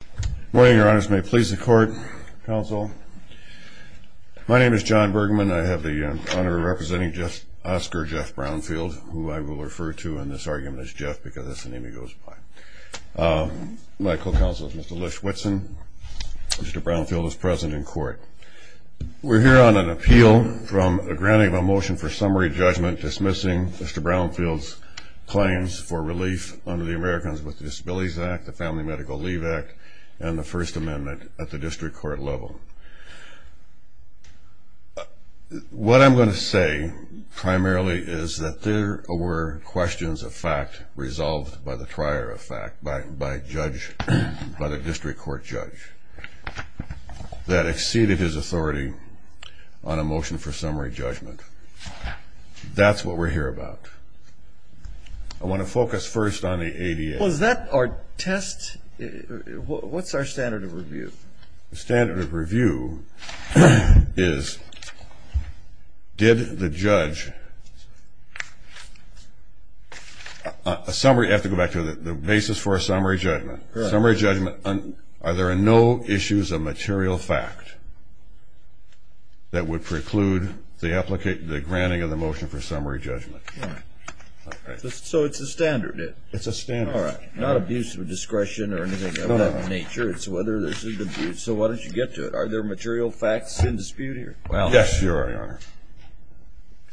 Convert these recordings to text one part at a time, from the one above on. Good morning, your honors. May it please the court, counsel. My name is John Bergman. I have the honor of representing Oscar Jeff Brownfield, who I will refer to in this argument as Jeff because that's the name he goes by. My co-counsel is Mr. Lish Whitson. Mr. Brownfield is present in court. We're here on an appeal from a granting of a motion for summary judgment dismissing Mr. Brownfield's claims for relief under the Americans with Disabilities Act, the Family Medical Leave Act, and the First Amendment at the district court level. What I'm going to say primarily is that there were questions of fact resolved by the trier of fact, by the district court judge, that exceeded his authority on a motion for summary judgment. That's what we're here about. I want to focus first on the ADA. Was that our test? What's our standard of review? The standard of review is did the judge, a summary, I have to go back to the basis for a summary judgment, summary judgment, are there are no issues of material fact that would be a summary judgment. So it's a standard. It's a standard. All right. Not abuse of discretion or anything of that nature. It's whether there's an abuse. So why don't you get to it? Are there material facts in dispute here? Well, yes, Your Honor.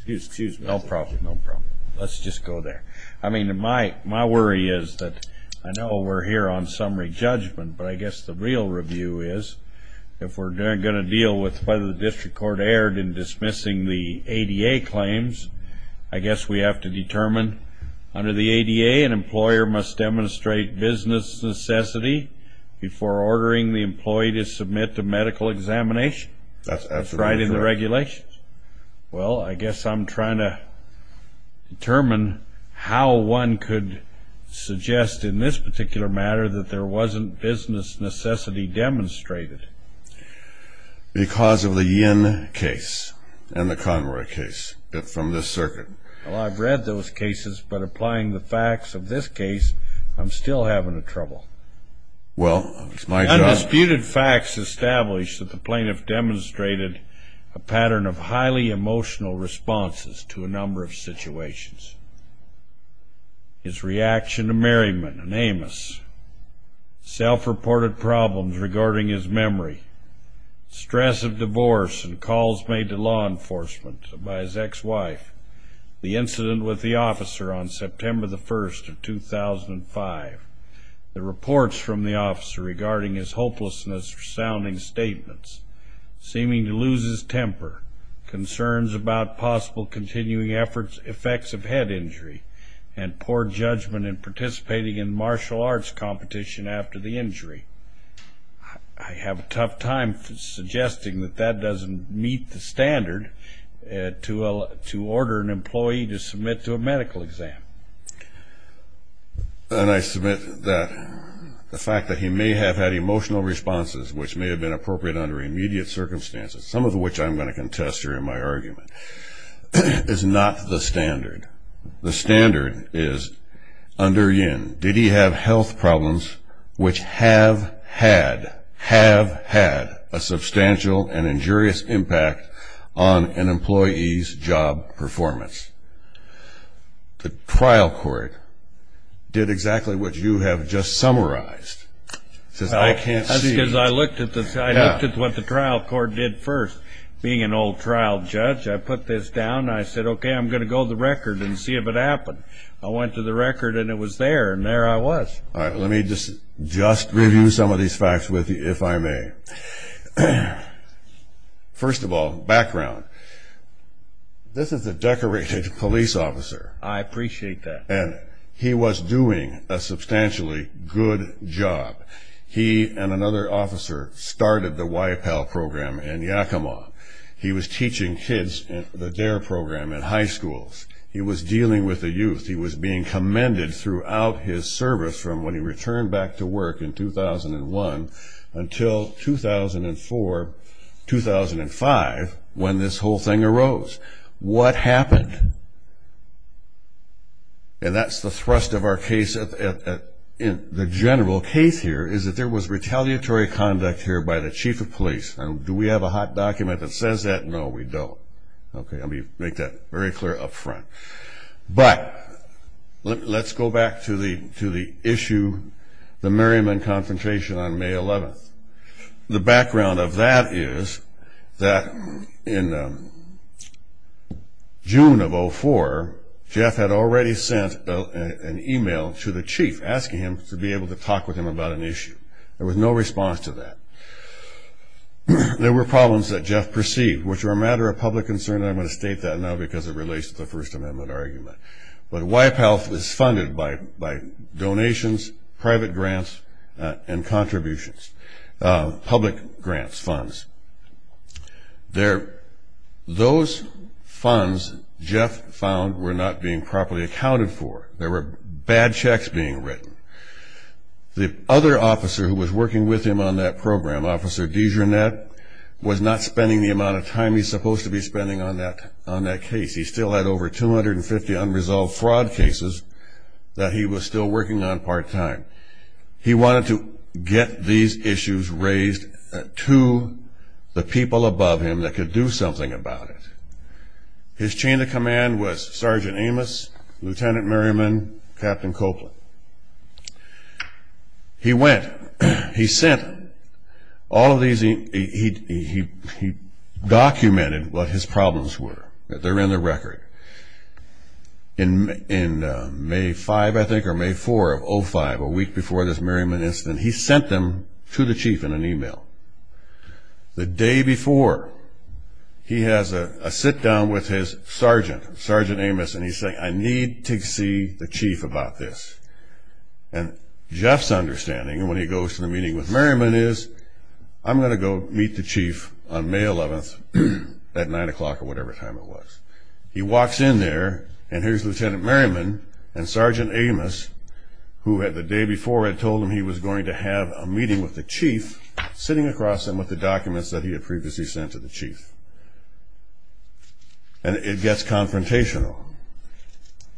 Excuse me. No problem. No problem. Let's just go there. I mean, my worry is that I know we're here on summary judgment, but I guess the real review is if we're going to deal with whether the district court erred in dismissing the ADA claims, I guess we have to determine under the ADA an employer must demonstrate business necessity before ordering the employee to submit to medical examination. That's right in the regulations. Well, I guess I'm trying to determine how one could suggest in this particular matter that there from this circuit. Well, I've read those cases, but applying the facts of this case, I'm still having a trouble. Well, it's my job. Undisputed facts established that the plaintiff demonstrated a pattern of highly emotional responses to a number of situations. His reaction to Merriman and Amos, self-reported problems regarding his memory, stress of divorce and calls made to law enforcement by his ex-wife, the incident with the officer on September the 1st of 2005, the reports from the officer regarding his hopelessness, resounding statements, seeming to lose his temper, concerns about possible continuing efforts, effects of head injury, and poor judgment in participating in martial arts competition after the injury. I have a tough time suggesting that that doesn't meet the to order an employee to submit to a medical exam. And I submit that the fact that he may have had emotional responses, which may have been appropriate under immediate circumstances, some of which I'm going to contest during my argument, is not the standard. The standard is under Yin. Did he have job performance? The trial court did exactly what you have just summarized. I looked at what the trial court did first. Being an old trial judge, I put this down. I said, OK, I'm going to go to the record and see if it happened. I went to the record and it was there and there I was. All right. Let me just review some of these facts with you, if I may. First of all, background. This is a decorated police officer. I appreciate that. And he was doing a substantially good job. He and another officer started the YPAL program in Yakima. He was teaching kids in the DARE program at high schools. He was dealing with the youth. He was being commended throughout his service from when he returned back to work in 2001 until 2004, 2005, when this whole thing arose. What happened? And that's the thrust of our case. The general case here is that there was retaliatory conduct here by the chief of police. Do we have a hot document that says that? No, we don't. OK, let me make that very The Merriman Confrontation on May 11th. The background of that is that in June of 2004, Jeff had already sent an email to the chief asking him to be able to talk with him about an issue. There was no response to that. There were problems that Jeff perceived, which were a matter of public concern. I'm going to state that now because it relates to the First Amendment argument. But YPAL is funded by donations, private grants, and contributions, public grants, funds. Those funds, Jeff found, were not being properly accounted for. There were bad checks being written. The other officer who was working with him on that program, Officer Dijonette, was not spending the amount of time he's supposed to be spending on that case. He still had over 250 unresolved fraud cases that he was still working on part-time. He wanted to get these issues raised to the people above him that could do something about it. His chain of command was Sergeant Amos, Lieutenant Merriman, Captain Copeland. He went, he sent all of these emails. He documented what his problems were. They're in the record. In May 5, I think, or May 4 of 05, a week before this Merriman incident, he sent them to the chief in an email. The day before, he has a sit-down with his sergeant, Sergeant Amos, and he's saying, I need to see the chief about this. And Jeff's understanding, when he goes to the meeting with Merriman, is, I'm going to go meet the chief on May 11th at 9 o'clock or whatever time it was. He walks in there, and here's Lieutenant Merriman and Sergeant Amos, who the day before had told him he was going to have a meeting with the chief, sitting across him with the documents that he had previously sent to the chief. And it gets confrontational.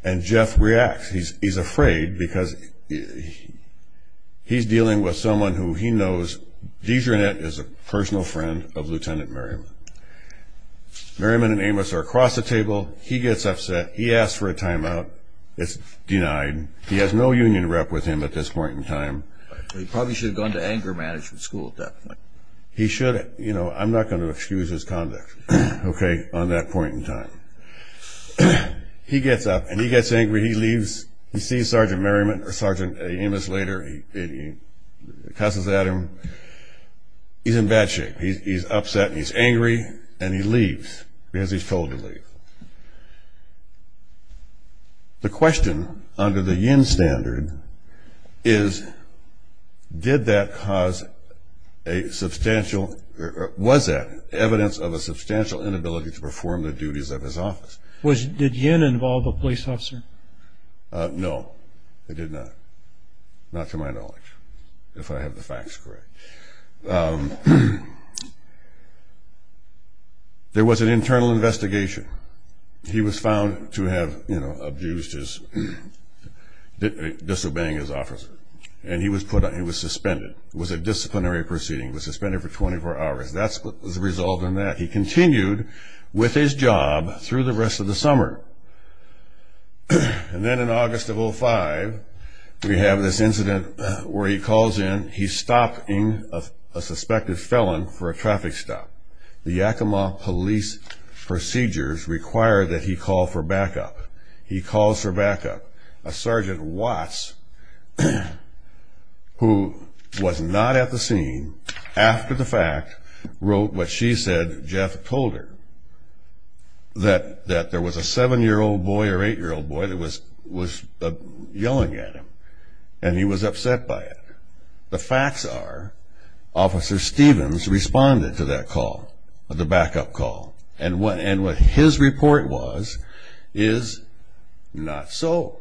And Jeff reacts. He's afraid because he's dealing with someone who he knows, DeJarnett is a personal friend of Lieutenant Merriman. Merriman and Amos are across the table. He gets upset. He asks for a timeout. It's denied. He has no union rep with him at this point in time. He probably should have gone to anger management school at that point. He should have. You know, I'm not going to excuse his conduct, okay, on that point in time. He gets up, and he gets angry. He leaves. He sees Sergeant Merriman, or Sergeant Amos, later. He cusses at him. He's in bad shape. He's upset. He's angry. And he leaves because he's told to leave. The question under the Yin standard is, did that cause a substantial, or was that evidence of a substantial inability to perform the duties of his office? Was, did Yin involve a police officer? No, it did not. Not to my knowledge, if I have the facts correct. There was an internal investigation. He was found to have, you know, abused his, disobeying his officer. And he was put on, he was suspended. It was a disciplinary proceeding. He was suspended for 24 hours. That's what was the result of that. He continued with his job through the rest of the summer. And then in August of 05, we have this incident where he calls in, he's stopping a suspected felon for a traffic stop. The Yakima police procedures require that he call for backup. He calls for backup. A Sergeant Watts, who was not at the scene, after the fact, wrote what she said Jeff told her. That, that there was a seven-year-old boy or eight-year-old boy that was, was yelling at him. And he was upset by it. The facts are, Officer Stevens responded to that call, the backup call. And what, and what his report was, is not so.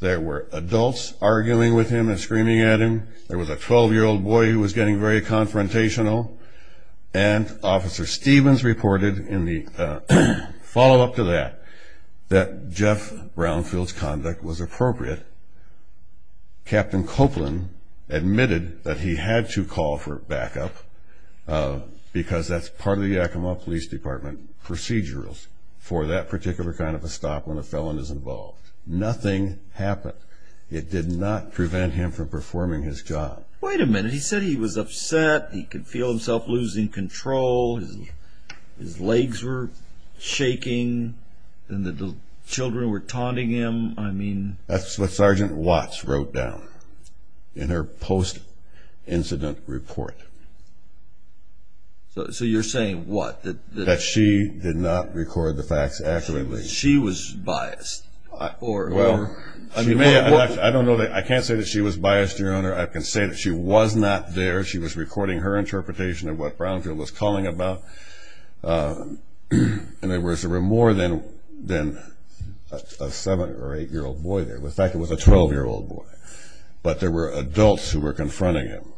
There were adults arguing with him and screaming at him. There was a 12-year-old boy who was getting very confrontational. And Officer Stevens reported in the follow-up to that, that Jeff Brownfield's conduct was appropriate. Captain Copeland admitted that he had to call for backup because that's part of the Yakima Police Department procedurals for that particular kind of a stop when a felon is involved. Nothing happened. It did not prevent him from yelling at him. And he said he was upset. He could feel himself losing control. His, his legs were shaking. And the children were taunting him. I mean. That's what Sergeant Watts wrote down in her post-incident report. So, so you're saying what? That, that she did not record the facts accurately. She was, she was biased. Well, she may have, I don't know. I can't say that she was biased, Your Honor. I can say that she was not there. She was recording her interpretation of what Brownfield was calling about. And there was, there were more than, than a 7 or 8-year-old boy there. In fact, it was a 12-year-old boy. But there were adults who were confronting him.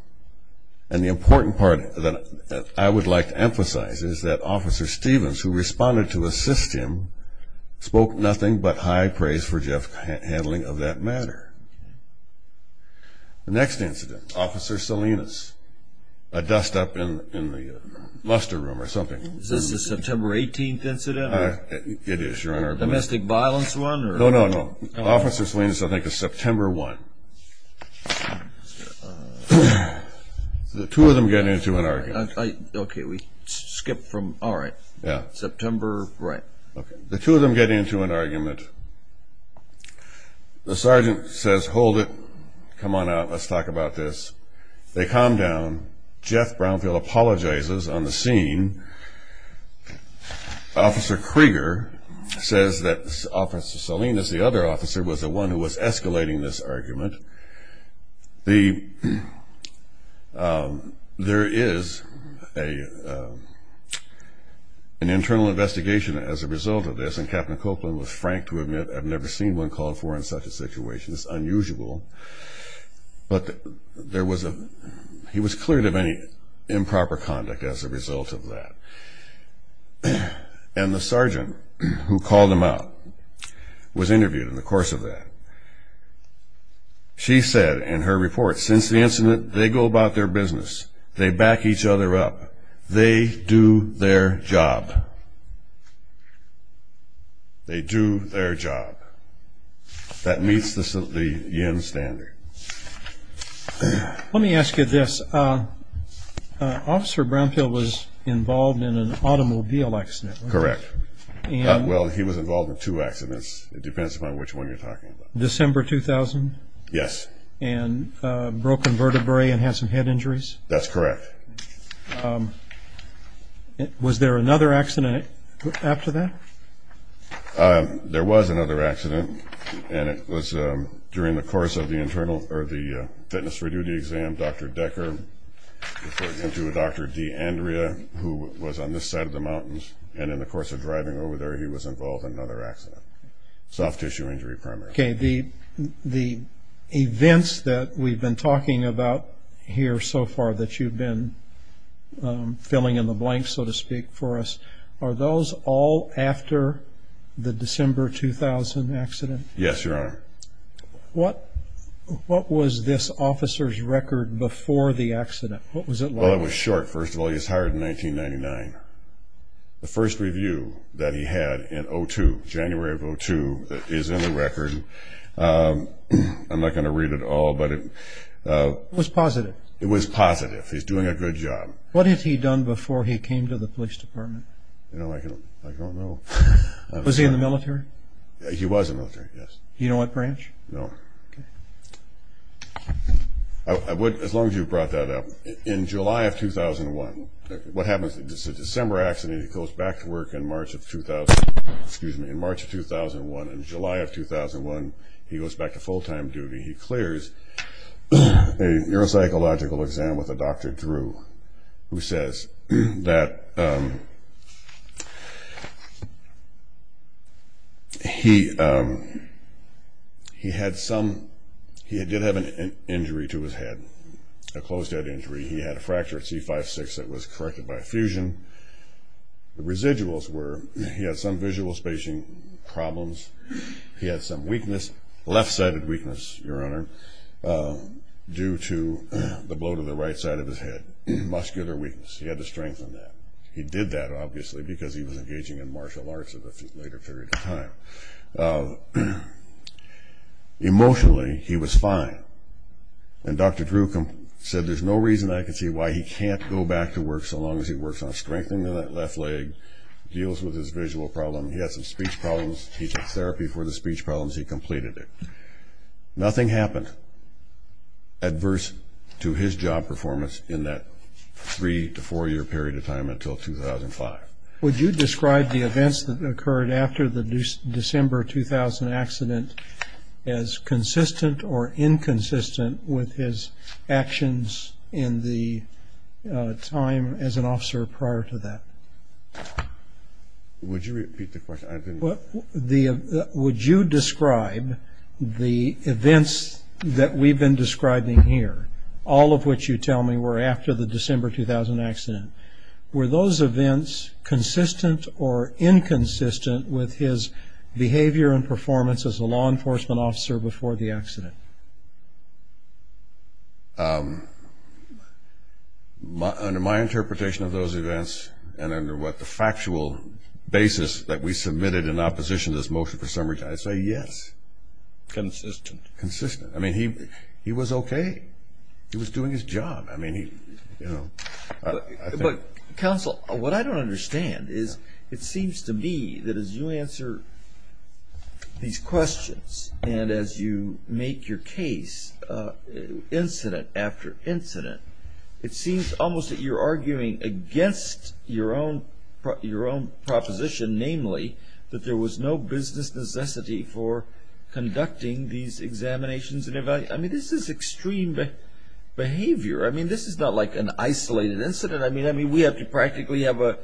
And the important part that I would like to emphasize is that Officer Stevens, who responded to assist him, spoke nothing but high praise for Jeff handling of that matter. The next incident, Officer Salinas. A dust-up in, in the muster room or something. Is this the September 18th incident? It is, Your Honor. Domestic violence one? No, no, no. Officer Salinas, I think, is September 1. The two of them get into an argument. The sergeant says, hold it. Come on out. Let's talk about this. They calm down. Jeff Brownfield apologizes on the scene. Officer Krieger says that Officer Salinas, the other officer, was the one who was escalating this argument. The, there is a, an internal investigation as a result of this. And Captain Copeland was frank to admit, I've never seen one called for in such a situation. It's unusual. But there was a, he was cleared of any improper conduct as a result of that. And the sergeant who called him out was interviewed in the course of that. She said in her report, since the incident, they go about their business. They back each other up. They do their job. They do their job. That meets the, the yen standard. Let me ask you this. Officer Brownfield was involved in an automobile accident. Correct. Well, he was involved in two accidents. It depends upon which one you're talking about. December 2000? Yes. And broken vertebrae and had some head injuries? That's correct. Was there another accident after that? There was another accident. And it was during the course of the internal, or the fitness for duty exam, Dr. Decker reported to Dr. D'Andrea, who was on this side of the mountains. And in the course of driving over there, he was involved in another accident. Soft tissue injury, primarily. Okay. The, the events that we've been talking about here so far that you've been filling in the blanks, so to speak, for us, are those all after the December 2000 accident? Yes, Your Honor. What, what was this officer's record before the accident? What was it like? Well, it was short. First of all, he was hired in 1999. The first review that he had in 2002, January of 2002, is in the record. I'm not going to read it all, but it was positive. It was positive. He's doing a good job. What had he done before he came to the military? Yes. You know what, Branch? No. Okay. I would, as long as you brought that up, in July of 2001, what happens, it's a December accident, he goes back to work in He had some, he did have an injury to his head, a closed head injury. He had a fracture at C5-6 that was corrected by effusion. The residuals were, he had some visual spacing problems. He had some weakness, left-sided weakness, Your Honor, due to the blow to the right side of his head, muscular weakness. He had to strengthen that. He did that, obviously, because he was engaging in martial arts at a later period of time. Emotionally, he was fine. And Dr. Drew said, there's no reason I can see why he can't go back to work so long as he works on strengthening that left leg, deals with his visual problem. He had some speech problems. He took therapy for the speech problems. He completed it. Nothing happened adverse to his job performance in that three to four year period of time until 2005. Would you describe the events that occurred after the December 2000 accident as consistent or inconsistent with his actions in the time as an officer prior to that? Would you repeat the question? Would you describe the events that we've been describing here, all of which you tell me were after the December 2000 accident, were those events consistent or inconsistent with his behavior and performance as a law enforcement officer before the accident? Under my interpretation of those events and under what the factual basis that we submitted in opposition to this motion for summary, I'd say yes. Consistent. Consistent. I mean, he was okay. He was doing his job. I mean, he, you know. But counsel, what I don't understand is it seems to me that as you answer these questions and as you make your case incident after incident, it seems almost that you're arguing against your own proposition, namely that there was no business necessity for conducting these examinations. I mean, this is extreme behavior. I mean, this is not like an isolated incident. I mean, we have to practically have an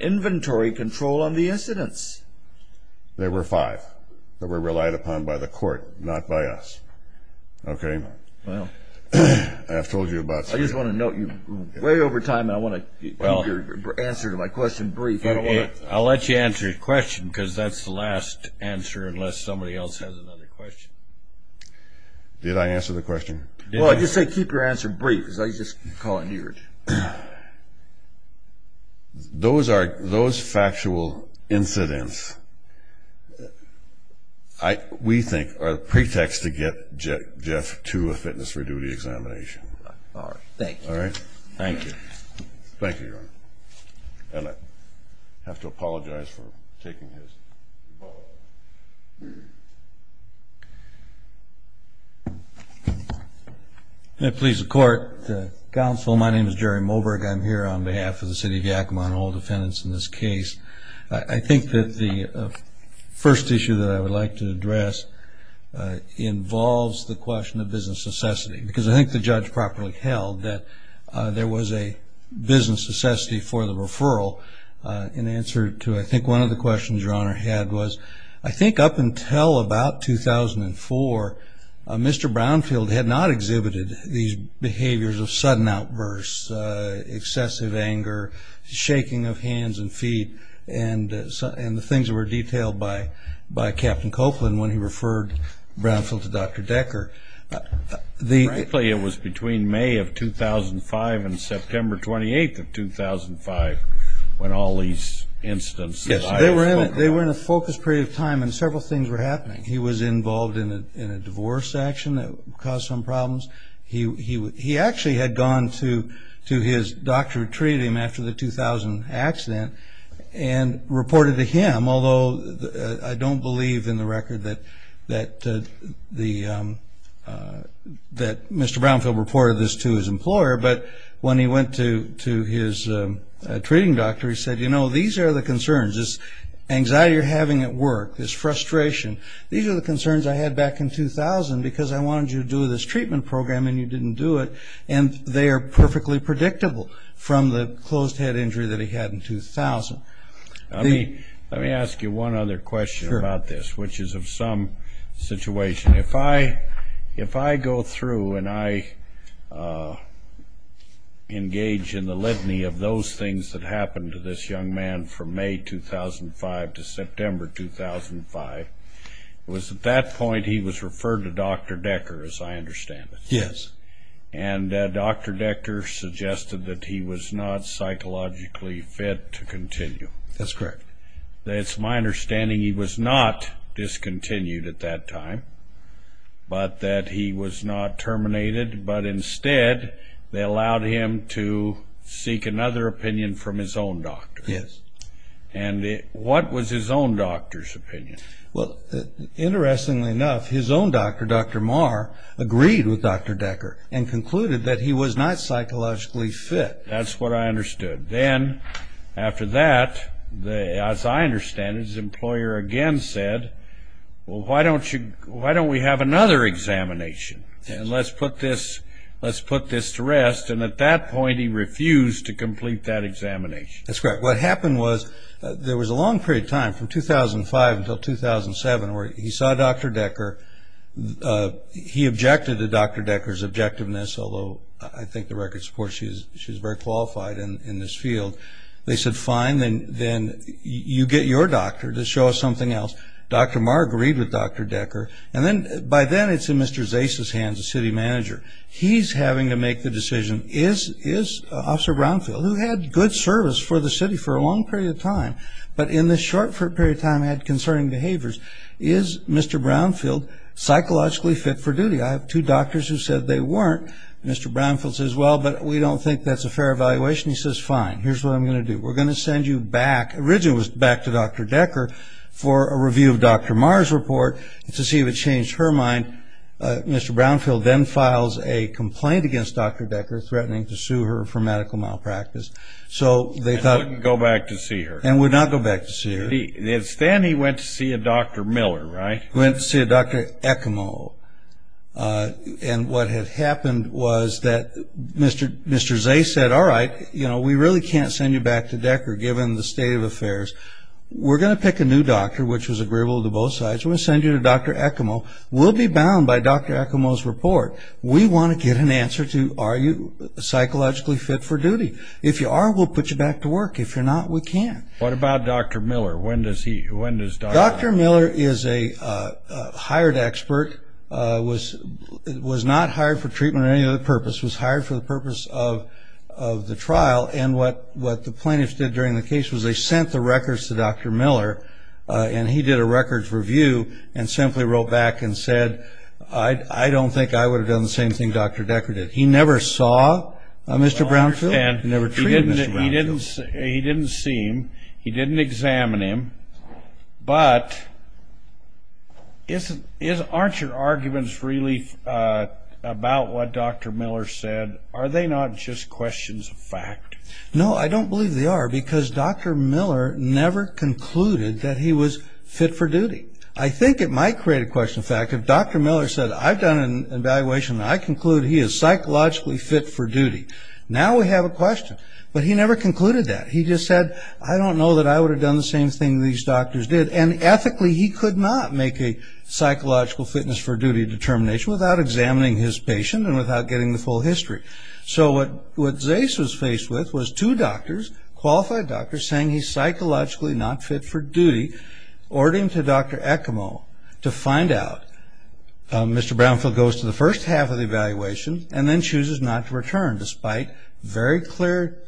inventory control on the incidents. There were five that were relied upon by the court, not by us. Okay? Well. I have told you about three. I just want to note, you're way over time and I want to keep your answer to my question brief. I'll let you answer your question because that's the last answer unless somebody else has another question. Did I answer the question? Well, I just said keep your answer brief. I was just calling to your attention. Those factual incidents, we think, are the pretext to get Jeff to a fitness for duty examination. All right. Thank you. All right? Thank you. Thank you, Your Honor. And I have to apologize for taking his vote. May it please the court. Counsel, my name is Jerry Moberg. I'm here on behalf of the city of Yakima and all defendants in this case. I think that the first issue that I would like to address involves the question of business necessity because I think the judge properly held that there was a business necessity for the referral in answer to I think one of the questions Your Honor had was I think up until about 2004, Mr. Brownfield had not exhibited these behaviors of sudden outbursts, excessive anger, shaking of hands and feet, and the things that were detailed by Captain Copeland when he referred Brownfield to Dr. Decker. Frankly, it was between May of 2005 and September 28th of 2005 when all these incidents. Yes, they were in a focused period of time and several things were happening. He was involved in a divorce action that caused some problems. He actually had gone to his doctor who treated him after the 2000 accident and reported to him, although I don't believe in the record that Mr. Brownfield reported this to his employer, but when he went to his treating doctor, he said, you know, these are the concerns. This anxiety you're having at work, this frustration, these are the concerns I had back in 2000 because I wanted you to do this treatment program and you didn't do it and they are perfectly predictable from the closed head injury that he had in 2000. Let me ask you one other question about this, which is of some situation. If I go through and I engage in the litany of those things that happened to this young man from May 2005 to September 2005, it was at that point he was referred to Dr. Decker, as I understand it. Yes. And Dr. Decker suggested that he was not psychologically fit to continue. That's correct. It's my understanding he was not discontinued at that time, but that he was not terminated, but instead they allowed him to seek another opinion from his own doctor. Yes. And what was his own doctor's opinion? Well, interestingly enough, his own doctor, Dr. Marr, agreed with Dr. Decker and concluded that he was not psychologically fit. That's what I understood. Then after that, as I understand it, his employer again said, well, why don't we have another examination and let's put this to rest, and at that point he refused to complete that examination. That's correct. What happened was there was a long period of time, from 2005 until 2007, where he saw Dr. Decker. He objected to Dr. Decker's objectiveness, although I think the record supports she was very qualified in this field. They said, fine, then you get your doctor to show us something else. Dr. Marr agreed with Dr. Decker, and then by then it's in Mr. Zace's hands, the city manager. He's having to make the decision, is Officer Brownfield, who had good service for the city for a long period of time, but in this short period of time had concerning behaviors, is Mr. Brownfield psychologically fit for duty? I have two doctors who said they weren't. Mr. Brownfield says, well, but we don't think that's a fair evaluation. He says, fine, here's what I'm going to do. We're going to send you back, originally it was back to Dr. Decker, for a review of Dr. Marr's report to see if it changed her mind. Mr. Brownfield then files a complaint against Dr. Decker, threatening to sue her for medical malpractice. And would not go back to see her. And would not go back to see her. It's then he went to see a Dr. Miller, right? Went to see a Dr. Ekimo, and what had happened was that Mr. Zace said, all right, we really can't send you back to Decker given the state of affairs. We're going to pick a new doctor, which was agreeable to both sides. We're going to send you to Dr. Ekimo. We'll be bound by Dr. Ekimo's report. We want to get an answer to are you psychologically fit for duty. If you are, we'll put you back to work. If you're not, we can't. What about Dr. Miller? When does he, when does Dr. Miller? Dr. Miller is a hired expert, was not hired for treatment or any other purpose, was hired for the purpose of the trial. And what the plaintiffs did during the case was they sent the records to Dr. Miller, and he did a records review and simply wrote back and said, I don't think I would have done the same thing Dr. Decker did. He never saw Mr. Brownfield. He never treated Mr. Brownfield. He didn't see him. He didn't examine him. But aren't your arguments really about what Dr. Miller said, are they not just questions of fact? No, I don't believe they are, because Dr. Miller never concluded that he was fit for duty. I think it might create a question of fact if Dr. Miller said, I've done an evaluation and I conclude he is psychologically fit for duty. Now we have a question. But he never concluded that. He just said, I don't know that I would have done the same thing these doctors did. And ethically, he could not make a psychological fitness for duty determination without examining his patient and without getting the full history. So what Zace was faced with was two doctors, qualified doctors saying he's psychologically not fit for duty, ordering to Dr. Ekimo to find out. Mr. Brownfield goes to the first half of the evaluation and then chooses not to return, despite very clear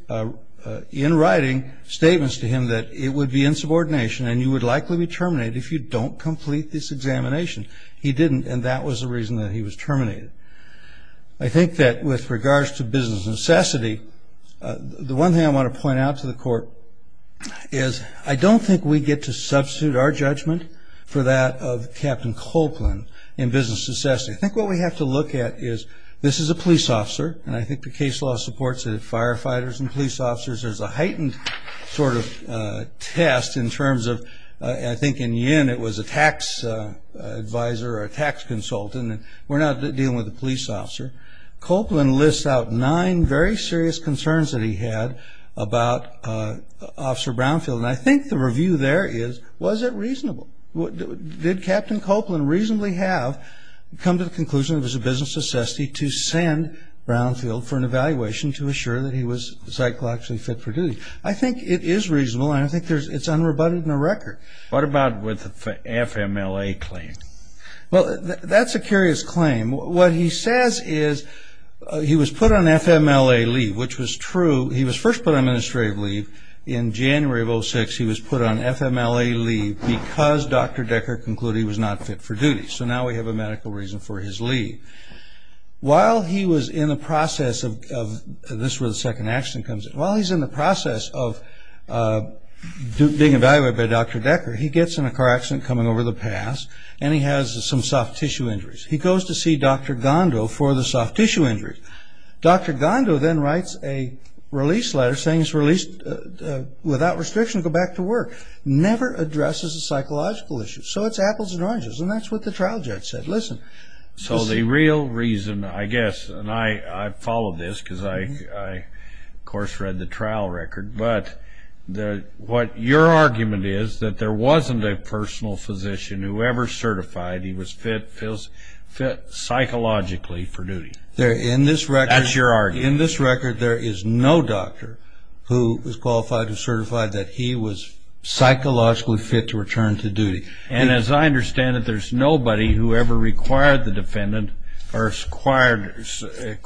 in writing statements to him that it would be insubordination and you would likely be terminated if you don't complete this examination. He didn't, and that was the reason that he was terminated. I think that with regards to business necessity, the one thing I want to point out to the court is I don't think we get to substitute our judgment for that of Captain Copeland in business necessity. I think what we have to look at is this is a police officer, and I think the case law supports that it's firefighters and police officers. There's a heightened sort of test in terms of I think in Yen it was a tax advisor or a tax consultant, and we're not dealing with a police officer. Copeland lists out nine very serious concerns that he had about Officer Brownfield, and I think the review there is was it reasonable? Did Captain Copeland reasonably have come to the conclusion it was a business necessity to send Brownfield for an evaluation to assure that he was psychologically fit for duty? I think it is reasonable, and I think it's unrebutted in the record. What about with the FMLA claim? Well, that's a curious claim. What he says is he was put on FMLA leave, which was true. He was first put on administrative leave in January of 2006. He was put on FMLA leave because Dr. Decker concluded he was not fit for duty, so now we have a medical reason for his leave. While he was in the process of this where the second action comes in, while he's in the process of being evaluated by Dr. Decker, he gets in a car accident coming over the pass, and he has some soft tissue injuries. He goes to see Dr. Gondo for the soft tissue injury. Dr. Gondo then writes a release letter saying he's released without restriction to go back to work. Never addresses a psychological issue, so it's apples and oranges, and that's what the trial judge said. So the real reason, I guess, and I followed this because I, of course, read the trial record, but what your argument is that there wasn't a personal physician who ever certified he was fit psychologically for duty. That's your argument. In this record, there is no doctor who was qualified or certified that he was psychologically fit to return to duty. And as I understand it, there's nobody who ever required the defendant or required Mr.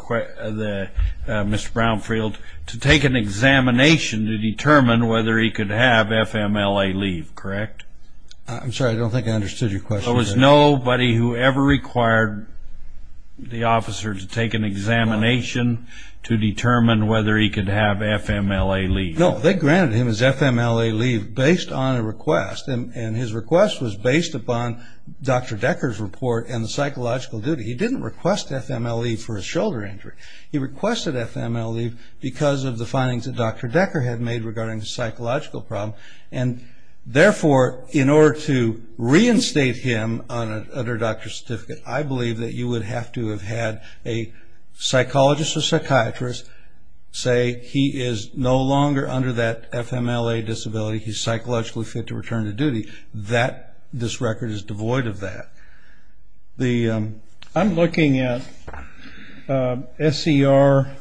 Brownfield to take an examination to determine whether he could have FMLA leave, correct? I'm sorry, I don't think I understood your question. There was nobody who ever required the officer to take an examination to determine whether he could have FMLA leave. No, they granted him his FMLA leave based on a request, and his request was based upon Dr. Decker's report and the psychological duty. He didn't request FMLA leave for a shoulder injury. He requested FMLA leave because of the findings that Dr. Decker had made regarding the psychological problem, and therefore in order to reinstate him under doctor's certificate, I believe that you would have to have had a psychologist or psychiatrist say he is no longer under that FMLA disability. He's psychologically fit to return to duty. This record is devoid of that. I'm looking at SER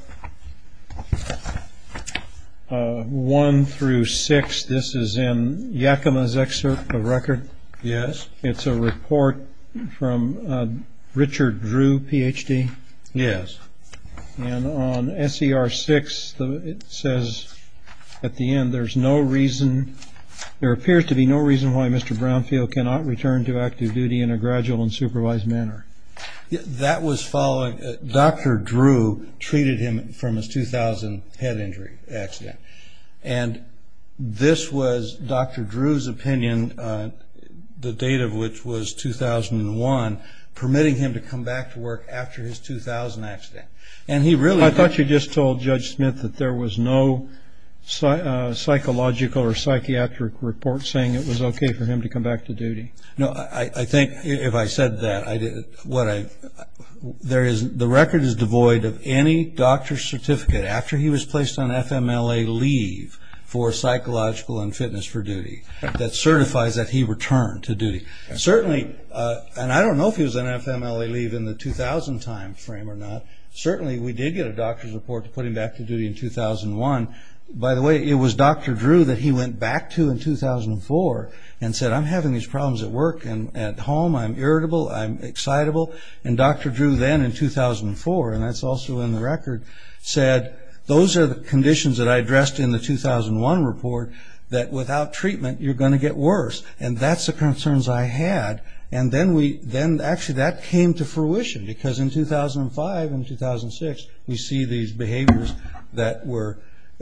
1 through 6. This is in Yakima's excerpt of the record. Yes. It's a report from Richard Drew, Ph.D. Yes. And on SER 6, it says at the end, there appears to be no reason why Mr. Brownfield cannot return to active duty in a gradual and supervised manner. That was following Dr. Drew treated him from his 2000 head injury accident, and this was Dr. Drew's opinion, the date of which was 2001, permitting him to come back to work after his 2000 accident. I thought you just told Judge Smith that there was no psychological or psychiatric report saying it was okay for him to come back to duty. No, I think if I said that, the record is devoid of any doctor's certificate after he was placed on FMLA leave for psychological and fitness for duty that certifies that he returned to duty. Certainly, and I don't know if he was on FMLA leave in the 2000 time frame or not, certainly we did get a doctor's report to put him back to duty in 2001. By the way, it was Dr. Drew that he went back to in 2004 and said, I'm having these problems at work and at home. I'm irritable. I'm excitable. And Dr. Drew then in 2004, and that's also in the record, said those are the conditions that I addressed in the 2001 report that without treatment you're going to get worse, and that's the concerns I had, and then actually that came to fruition because in 2005 and 2006 we see these behaviors that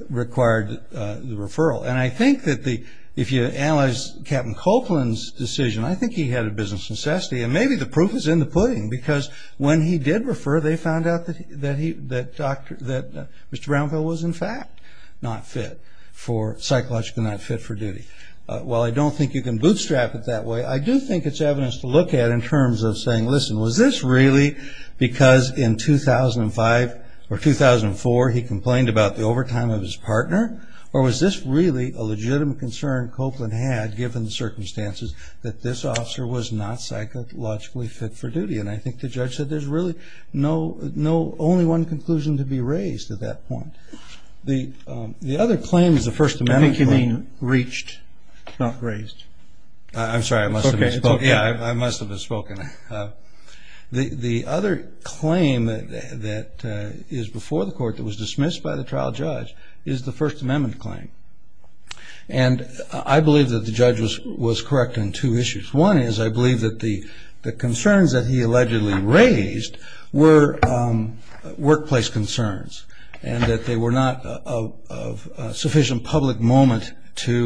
required the referral. And I think that if you analyze Captain Copeland's decision, I think he had a business necessity, and maybe the proof is in the pudding because when he did refer, they found out that Mr. Brownfield was, in fact, psychologically not fit for duty. While I don't think you can bootstrap it that way, I do think it's evidence to look at in terms of saying, listen, was this really because in 2005 or 2004 he complained about the overtime of his partner, or was this really a legitimate concern Copeland had given the circumstances that this officer was not psychologically fit for duty? And I think the judge said there's really only one conclusion to be raised at that point. The other claim is the First Amendment claim. You mean reached, not raised? I'm sorry, I must have misspoken. Okay. Yeah, I must have misspoken. The other claim that is before the court that was dismissed by the trial judge is the First Amendment claim. And I believe that the judge was correct on two issues. One is I believe that the concerns that he allegedly raised were workplace concerns and that they were not of sufficient public moment to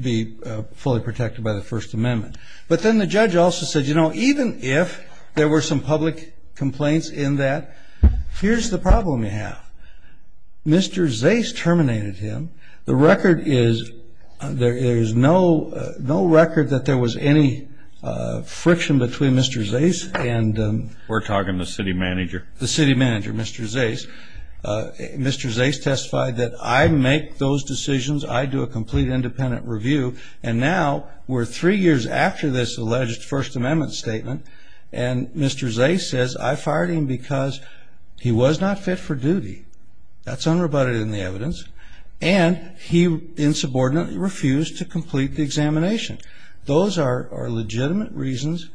be fully protected by the First Amendment. But then the judge also said, you know, even if there were some public complaints in that, here's the problem you have. Mr. Zais terminated him. The record is there is no record that there was any friction between Mr. Zais and them. We're talking the city manager. The city manager, Mr. Zais. Mr. Zais testified that I make those decisions, I do a complete independent review, and now we're three years after this alleged First Amendment statement and Mr. Zais says I fired him because he was not fit for duty. That's unrebutted in the evidence. And he insubordinately refused to complete the examination. Those are legitimate reasons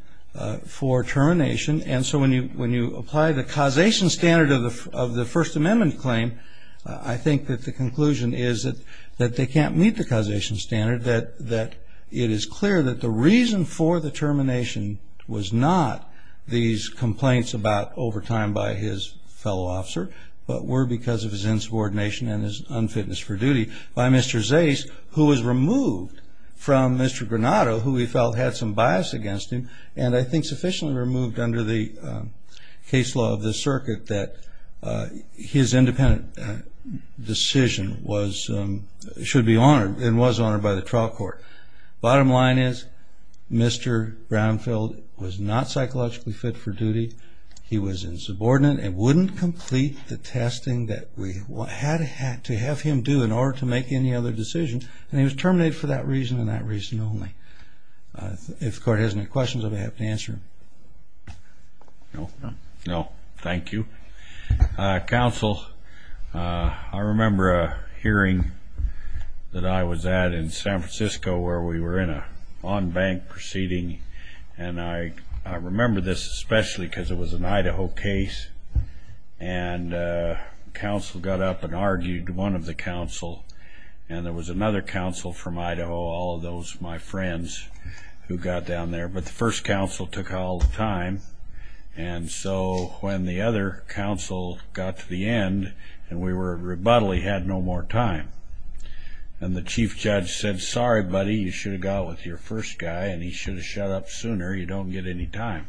for termination. And so when you apply the causation standard of the First Amendment claim, I think that the conclusion is that they can't meet the causation standard, that it is clear that the reason for the termination was not these complaints about overtime by his fellow officer, but were because of his insubordination and his unfitness for duty by Mr. Zais, who was removed from Mr. Granato, who he felt had some bias against him, and I think sufficiently removed under the case law of the circuit that his independent decision should be honored and was honored by the trial court. Bottom line is Mr. Brownfield was not psychologically fit for duty. He was insubordinate and wouldn't complete the testing that we had to have him do in order to make any other decisions, and he was terminated for that reason and that reason only. If the court has any questions, I'd be happy to answer them. No, thank you. Counsel, I remember a hearing that I was at in San Francisco where we were in an on-bank proceeding, and I remember this especially because it was an Idaho case, and counsel got up and argued, one of the counsel, and there was another counsel from Idaho, all of those my friends who got down there, but the first counsel took all the time, and so when the other counsel got to the end and we were at rebuttal, he had no more time, and the chief judge said, Sorry, buddy, you should have gone with your first guy, and he should have shut up sooner. You don't get any time.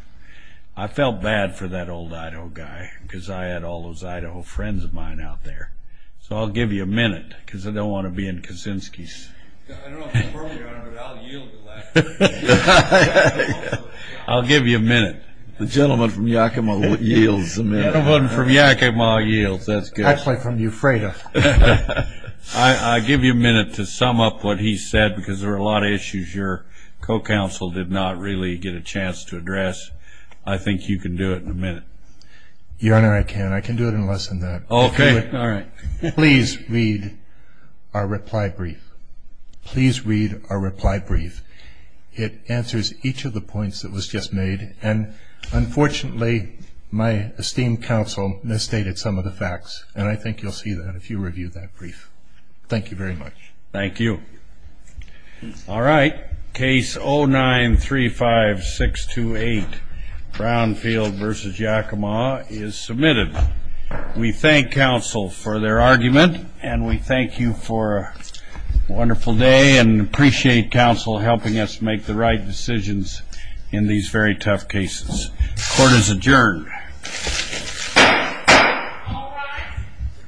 I felt bad for that old Idaho guy because I had all those Idaho friends of mine out there, so I'll give you a minute because I don't want to be in Kaczynski's. I don't know if it's appropriate, but I'll yield. I'll give you a minute. The gentleman from Yakima yields. The gentleman from Yakima yields. That's good. Actually from Euphrata. I'll give you a minute to sum up what he said because there were a lot of issues your co-counsel did not really get a chance to address. I think you can do it in a minute. Your Honor, I can. I can do it in less than that. Okay. All right. Please read our reply brief. Please read our reply brief. It answers each of the points that was just made, and unfortunately my esteemed counsel misstated some of the facts, and I think you'll see that if you review that brief. Thank you very much. Thank you. All right. Case 0935628, Brownfield v. Yakima, is submitted. We thank counsel for their argument, and we thank you for a wonderful day and appreciate counsel helping us make the right decisions in these very tough cases. Court is adjourned. All rise.